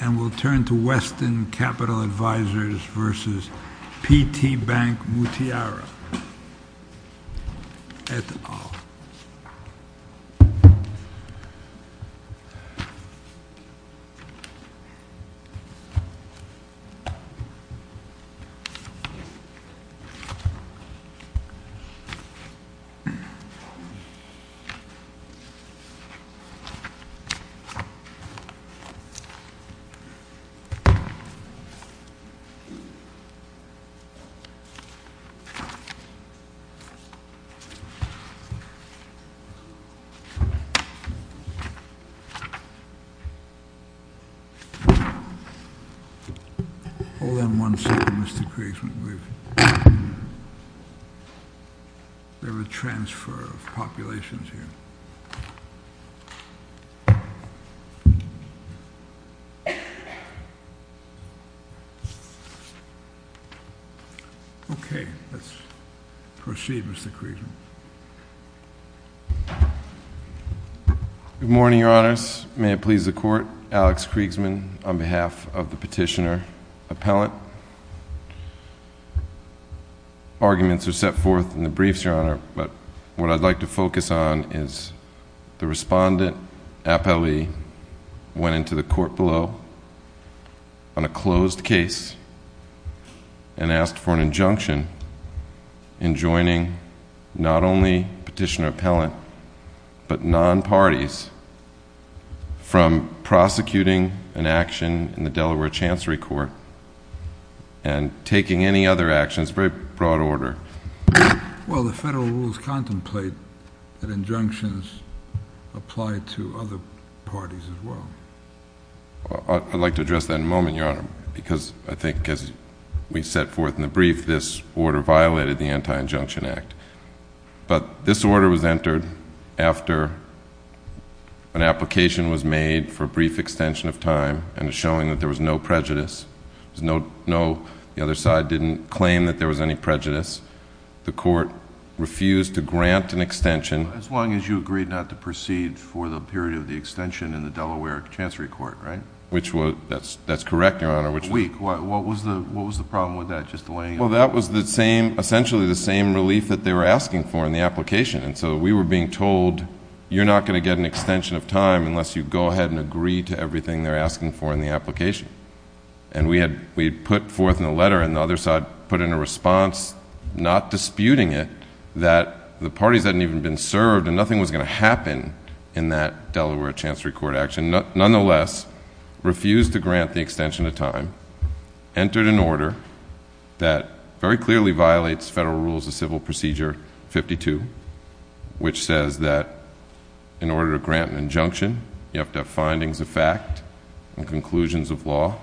and we'll turn to Weston Capital Advisors versus P.T. Bank-Muttiara et al. Hold on one second, Mr. Kriegsman, we have a transfer of populations here. Okay, let's proceed, Mr. Kriegsman. Good morning, Your Honors. May it please the Court, Alex Kriegsman on behalf of the petitioner appellant. Arguments are set forth in the briefs, Your Honor, but what I'd like to focus on is the on a closed case and asked for an injunction in joining not only petitioner appellant, but non-parties from prosecuting an action in the Delaware Chancery Court and taking any other actions, very broad order. Well, the federal rules contemplate that injunctions apply to other parties as well. I'd like to address that in a moment, Your Honor, because I think as we set forth in the brief, this order violated the Anti-Injunction Act. But this order was entered after an application was made for a brief extension of time and showing that there was no prejudice. The other side didn't claim that there was any prejudice. The court refused to grant an extension. As long as you agreed not to proceed for the period of the extension in the Delaware Chancery Court, right? That's correct, Your Honor. A week. What was the problem with that? Well, that was essentially the same relief that they were asking for in the application. And so we were being told, you're not going to get an extension of time unless you go ahead and agree to everything they're asking for in the application. And we had put forth in the letter and the other side put in a response not disputing it that the parties hadn't even been served and nothing was going to happen in that Delaware Chancery Court action. Nonetheless, refused to grant the extension of time, entered an order that very clearly violates federal rules of civil procedure 52, which says that in order to grant an injunction, you have to have findings of fact and conclusions of law.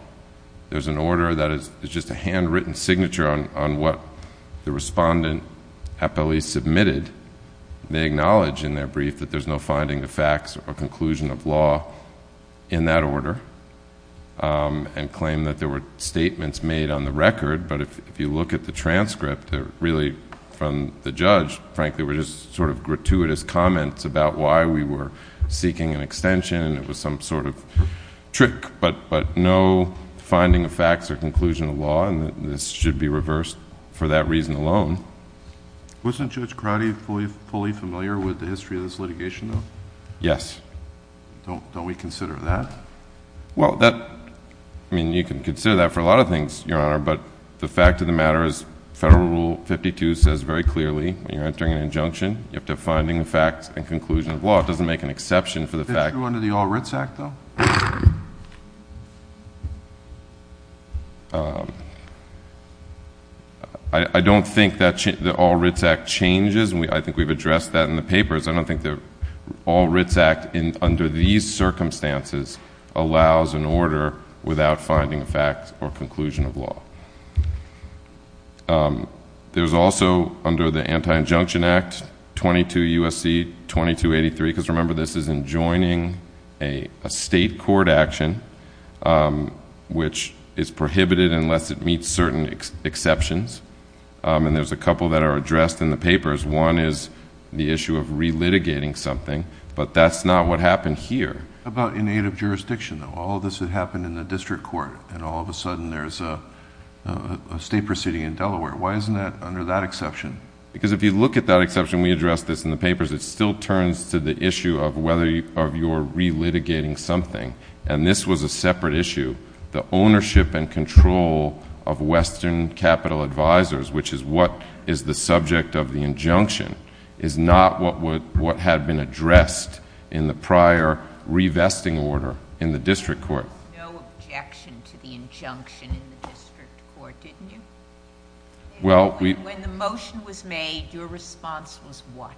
There's an order that is just a handwritten signature on what the respondent appellee submitted. They acknowledge in their brief that there's no finding of facts or conclusion of law in that order and claim that there were statements made on the record. But if you look at the transcript, really from the judge, frankly, were just sort of gratuitous comments about why we were seeking an extension and it was some sort of trick. But no finding of facts or conclusion of law, and this should be reversed for that reason alone. Wasn't Judge Crotty fully familiar with the history of this litigation, though? Yes. Don't we consider that? Well, that, I mean, you can consider that for a lot of things, Your Honor, but the fact of the matter is federal rule 52 says very clearly when you're entering an injunction, you have to have finding of facts and conclusion of law. It doesn't make an exception for the fact. Is that true under the All Writs Act, though? I don't think the All Writs Act changes, and I think we've addressed that in the papers. I don't think the All Writs Act under these circumstances allows an order without finding of facts or conclusion of law. There's also under the Anti-Injunction Act 22 U.S.C. 2283, because remember this is enjoining a state court action which is prohibited unless it meets certain exceptions, and there's a couple that are addressed in the papers. One is the issue of relitigating something, but that's not what happened here. What about in aid of jurisdiction, though? All of this had happened in the district court, and all of a sudden there's a state proceeding in Delaware. Why isn't that under that exception? Because if you look at that exception, we addressed this in the papers, it still turns to the issue of whether you're relitigating something, and this was a separate issue. The ownership and control of Western Capital Advisors, which is what is the subject of the injunction, is not what had been addressed in the prior revesting order in the district court. There was no objection to the injunction in the district court, didn't you? When the motion was made, your response was what?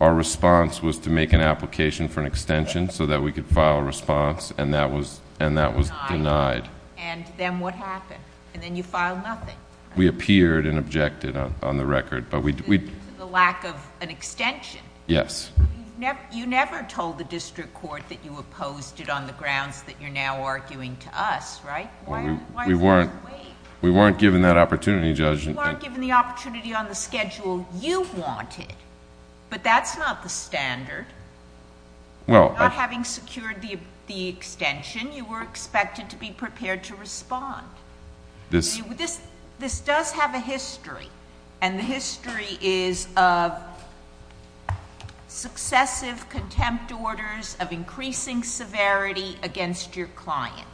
Our response was to make an application for an extension so that we could file a response, and that was denied. And then what happened? And then you filed nothing. We appeared and objected on the record, but we... To the lack of an extension? Yes. You never told the district court that you opposed it on the grounds that you're now arguing to us, right? We weren't given that opportunity, Judge. You weren't given the opportunity on the schedule you wanted, but that's not the standard. Well... Not having secured the extension, you were expected to be prepared to respond. This... This does have a history, and the history is of successive contempt orders of increasing severity against your client.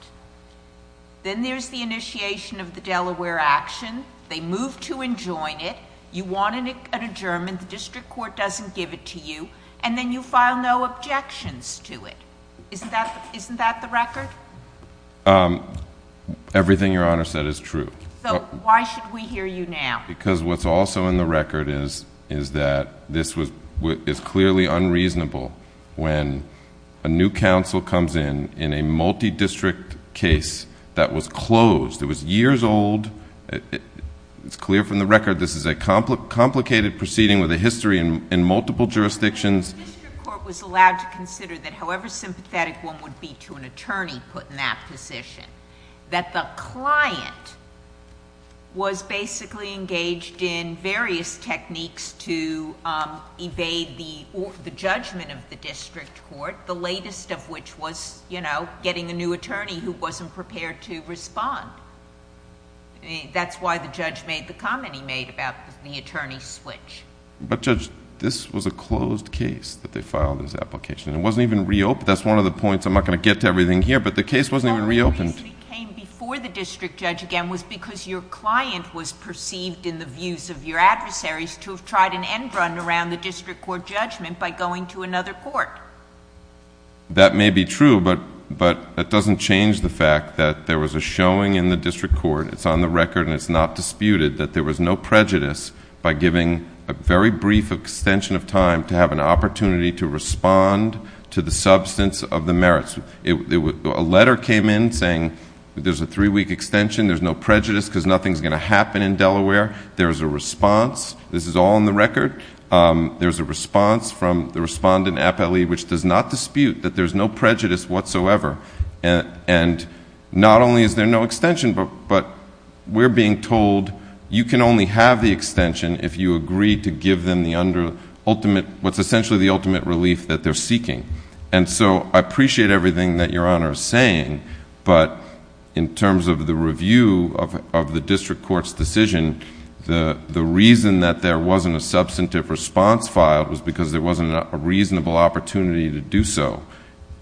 Then there's the initiation of the Delaware action. They move to and join it. You want an adjournment. The district court doesn't give it to you, and then you file no objections to it. Isn't that the record? Everything Your Honor said is true. So, why should we hear you now? Because what's also in the record is that this was... It's clearly unreasonable when a new counsel comes in, in a multi-district case that was closed. It was years old. It's clear from the record this is a complicated proceeding with a history in multiple jurisdictions. The district court was allowed to consider that however sympathetic one would be to an attorney put in that position, that the client was basically engaged in various techniques to evade the judgment of the district court, the latest of which was getting a new attorney who wasn't prepared to respond. That's why the judge made the comment he made about the attorney switch. But Judge, this was a closed case that they filed this application. It wasn't even reopened. That's one of the points, I'm not going to get to everything here, but the case wasn't even reopened. The reason it came before the district judge again was because your client was perceived in the views of your adversaries to have tried an end run around the district court judgment by going to another court. That may be true, but that doesn't change the fact that there was a showing in the district court, it's on the record and it's not disputed, that there was no prejudice by giving a very brief extension of time to have an opportunity to respond to the substance of the merits. A letter came in saying there's a three-week extension, there's no prejudice because nothing's going to happen in Delaware. There's a response. This is all on the record. There's a response from the respondent, APLE, which does not dispute that there's no prejudice whatsoever. And not only is there no extension, but we're being told you can only have the extension if you agree to give them what's essentially the ultimate relief that they're seeking. And so I appreciate everything that your Honor is saying, but in terms of the review of the district court's decision, the reason that there wasn't a substantive response filed was because there wasn't a reasonable opportunity to do so.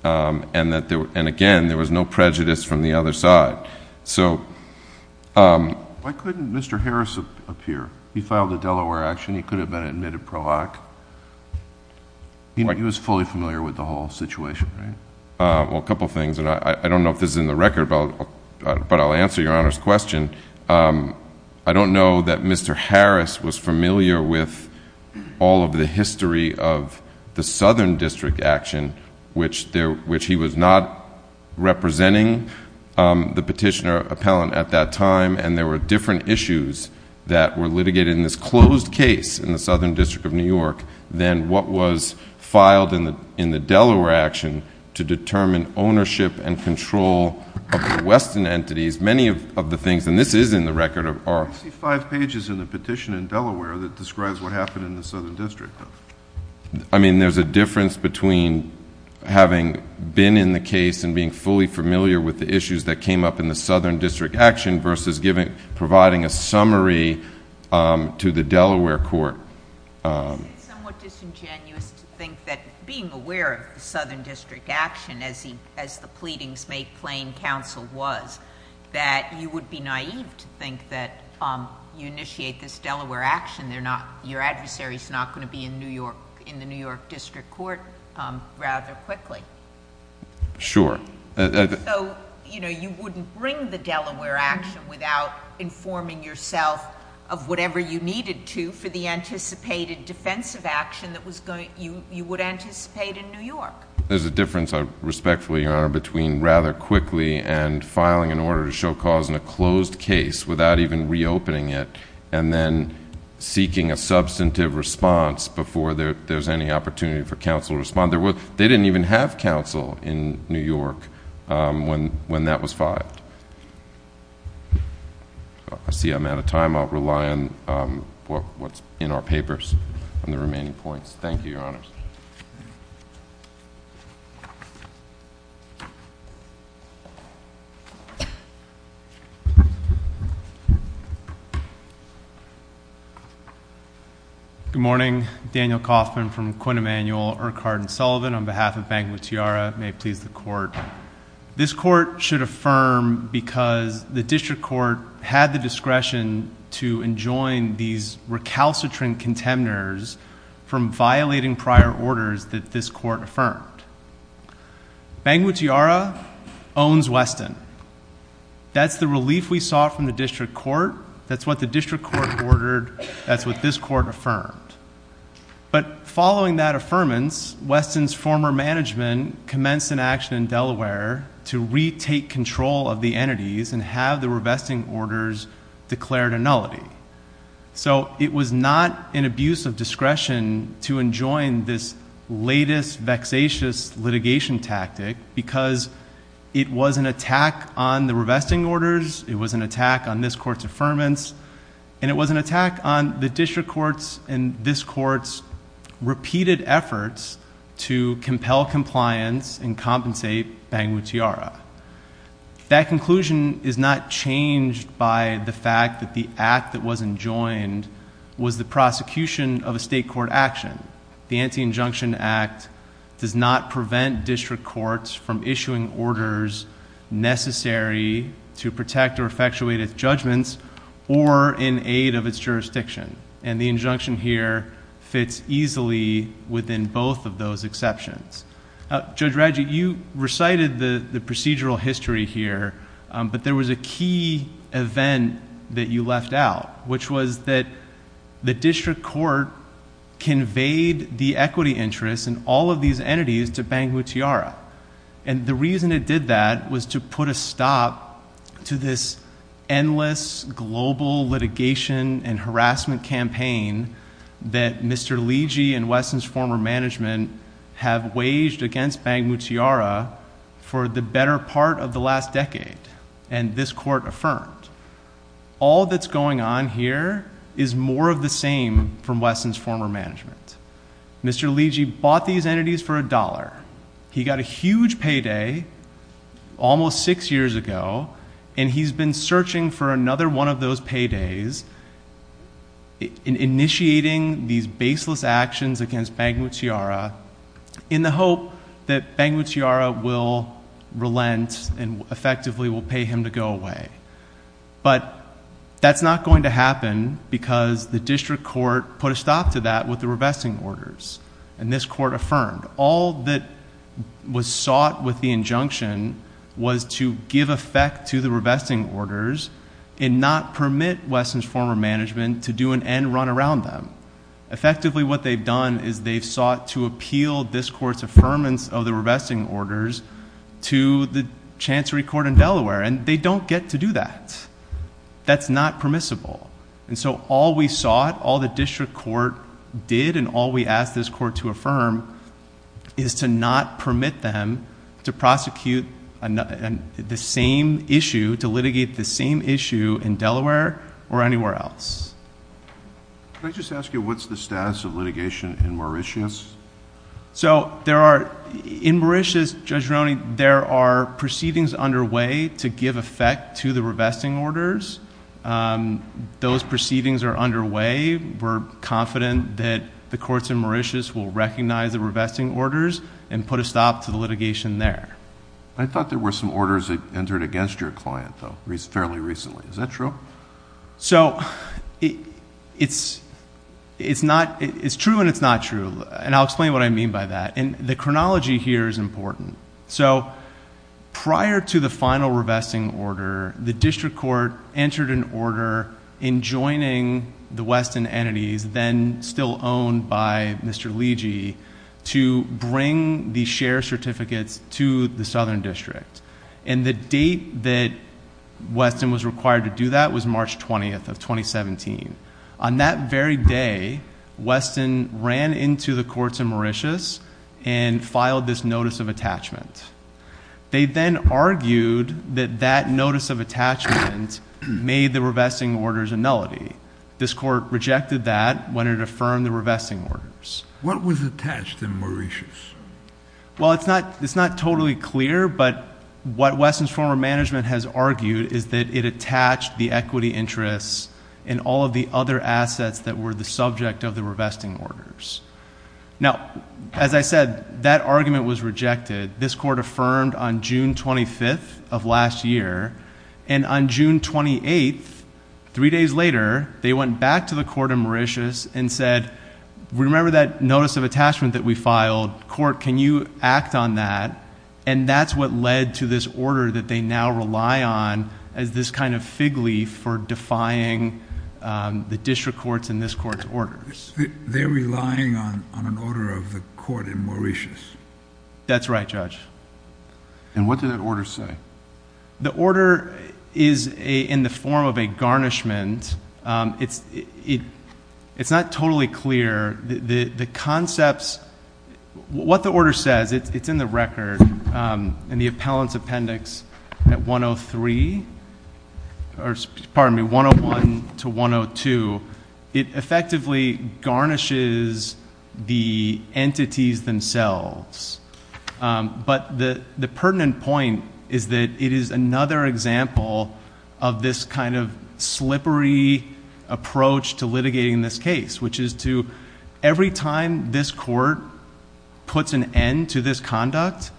And again, there was no prejudice from the other side. So... Why couldn't Mr. Harris appear? He filed a Delaware action. He could have been an admitted pro-act. He was fully familiar with the whole situation, right? Well, a couple things, and I don't know if this is in the record, but I'll answer your Honor's question. I don't know that Mr. Harris was familiar with all of the history of the Southern District action, which he was not representing the petitioner appellant at that time, and there were different issues that were litigated in this closed case in the Southern District of New York than what was filed in the Delaware action to determine ownership and control of the Western entities. Many of the things, and this is in the record, are... I see five pages in the petition in Delaware that describes what happened in the Southern District. I mean, there's a difference between having been in the case and being fully familiar with the issues that came up in the Southern District action versus providing a summary to the Delaware court. Isn't it somewhat disingenuous to think that being aware of the Southern District action, as the pleadings make plain counsel was, that you would be naive to think that you initiate this Delaware action. Your adversary is not going to be in the New York District court rather quickly. Sure. So, you know, you wouldn't bring the Delaware action without informing yourself of whatever you needed to for the anticipated defensive action that you would anticipate in New York. There's a difference, respectfully, Your Honor, between rather quickly and filing an order to show cause in a closed case without even reopening it and then seeking a substantive response before there's any opportunity for counsel to respond. They didn't even have counsel in New York when that was filed. I see I'm out of time. I'll rely on what's in our papers on the remaining points. Thank you, Your Honors. Thank you. Good morning. Daniel Kaufman from Quinn Emanuel, Urquhart & Sullivan on behalf of Banquet Tiara. May it please the court. This court should affirm because the district court had the discretion to enjoin these recalcitrant contenders from violating prior orders that this court affirmed. Banquet Tiara owns Weston. That's the relief we sought from the district court. That's what the district court ordered. That's what this court affirmed. But following that affirmance, Weston's former management commenced an action in Delaware to retake control of the entities and have the revesting orders declared a nullity. It was not an abuse of discretion to enjoin this latest vexatious litigation tactic because it was an attack on the revesting orders, it was an attack on this court's affirmance, and it was an attack on the district court's and this court's repeated efforts to compel compliance and compensate Banquet Tiara. That conclusion is not changed by the fact that the act that wasn't joined was the prosecution of a state court action. The Anti-Injunction Act does not prevent district courts from issuing orders necessary to protect or effectuate its judgments or in aid of its jurisdiction. And the injunction here fits easily within both of those exceptions. Judge Radji, you recited the procedural history here, but there was a key event that you left out, which was that the district court conveyed the equity interest in all of these entities to Banquet Tiara. And the reason it did that was to put a stop to this endless global litigation and harassment campaign that Mr. Legee and Wesson's former management have waged against Banquet Tiara for the better part of the last decade, and this court affirmed. All that's going on here is more of the same from Wesson's former management. Mr. Legee bought these entities for a dollar. He got a huge payday almost six years ago, and he's been searching for another one of those paydays and initiating these baseless actions against Banquet Tiara in the hope that Banquet Tiara will relent and effectively will pay him to go away. But that's not going to happen because the district court put a stop to that with the revesting orders, and this court affirmed. All that was sought with the injunction was to give effect to the revesting orders and not permit Wesson's former management to do an end run around them. Effectively what they've done is they've sought to appeal this court's affirmance of the revesting orders to the Chancery Court in Delaware, and they don't get to do that. That's not permissible. And so all we sought, all the district court did, and all we asked this court to affirm, is to not permit them to prosecute the same issue, to litigate the same issue in Delaware or anywhere else. Can I just ask you what's the status of litigation in Mauritius? So in Mauritius, Judge Roney, there are proceedings underway to give effect to the revesting orders. Those proceedings are underway. We're confident that the courts in Mauritius will recognize the revesting orders and put a stop to the litigation there. I thought there were some orders that entered against your client, though, fairly recently. Is that true? So it's true and it's not true, and I'll explain what I mean by that. And the chronology here is important. So prior to the final revesting order, the district court entered an order in joining the Weston entities, then still owned by Mr. Legee, to bring the share certificates to the southern district. And the date that Weston was required to do that was March 20th of 2017. On that very day, Weston ran into the courts in Mauritius and filed this notice of attachment. They then argued that that notice of attachment made the revesting orders a nullity. This court rejected that when it affirmed the revesting orders. What was attached in Mauritius? Well, it's not totally clear, but what Weston's former management has argued is that it attached the equity interests and all of the other assets that were the subject of the revesting orders. Now, as I said, that argument was rejected. This court affirmed on June 25th of last year. And on June 28th, three days later, they went back to the court in Mauritius and said, Remember that notice of attachment that we filed? Court, can you act on that? And that's what led to this order that they now rely on as this kind of fig leaf for defying the district court's and this court's orders. They're relying on an order of the court in Mauritius. That's right, Judge. And what did that order say? The order is in the form of a garnishment. It's not totally clear. The concepts, what the order says, it's in the record, in the appellant's appendix at 103, or pardon me, 101 to 102. It effectively garnishes the entities themselves. But the pertinent point is that it is another example of this kind of slippery approach to litigating this case, which is to every time this court puts an end to this conduct,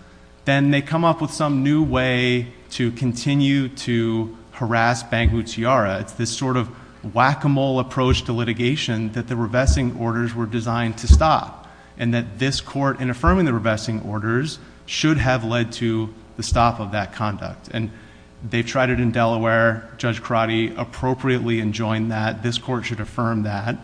then they come up with some new way to continue to harass Bangu Tiara. It's this sort of whack-a-mole approach to litigation that the revesting orders were designed to stop. And that this court, in affirming the revesting orders, should have led to the stop of that conduct. And they've tried it in Delaware. Judge Crotty appropriately enjoined that. This court should affirm that.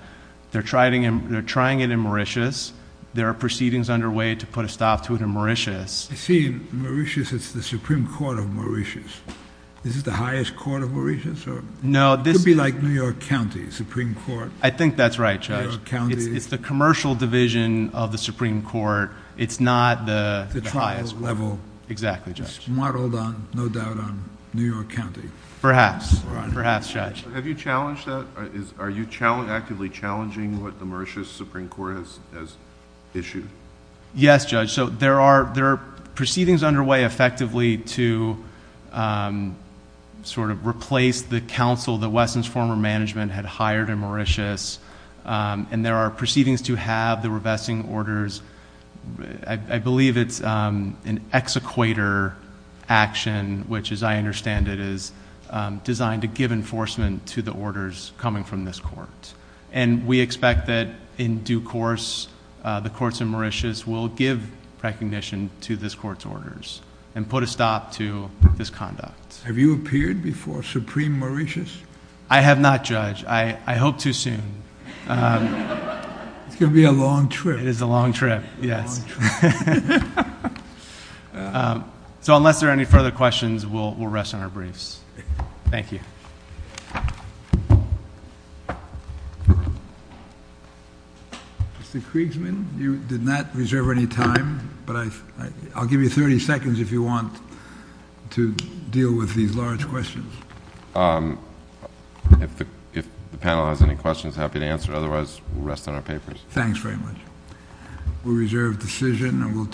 They're trying it in Mauritius. There are proceedings underway to put a stop to it in Mauritius. I see. Mauritius is the Supreme Court of Mauritius. Is it the highest court of Mauritius? No. I think that's right, Judge. New York County. It's the commercial division of the Supreme Court. It's not the highest level. Exactly, Judge. It's modeled, no doubt, on New York County. Perhaps. Perhaps, Judge. Have you challenged that? Are you actively challenging what the Mauritius Supreme Court has issued? Yes, Judge. So there are proceedings underway effectively to sort of replace the counsel that Wesson's former management had hired in Mauritius. And there are proceedings to have the revesting orders. I believe it's an exequator action, which, as I understand it, is designed to give enforcement to the orders coming from this court. And we expect that, in due course, the courts in Mauritius will give recognition to this court's orders and put a stop to this conduct. Have you appeared before Supreme Mauritius? I have not, Judge. I hope to soon. It's going to be a long trip. It is a long trip, yes. So unless there are any further questions, we'll rest on our briefs. Thank you. Mr. Kriegsman, you did not reserve any time, but I'll give you 30 seconds if you want to deal with these large questions. If the panel has any questions, I'm happy to answer. Otherwise, we'll rest on our papers. Thanks very much. We reserve the decision.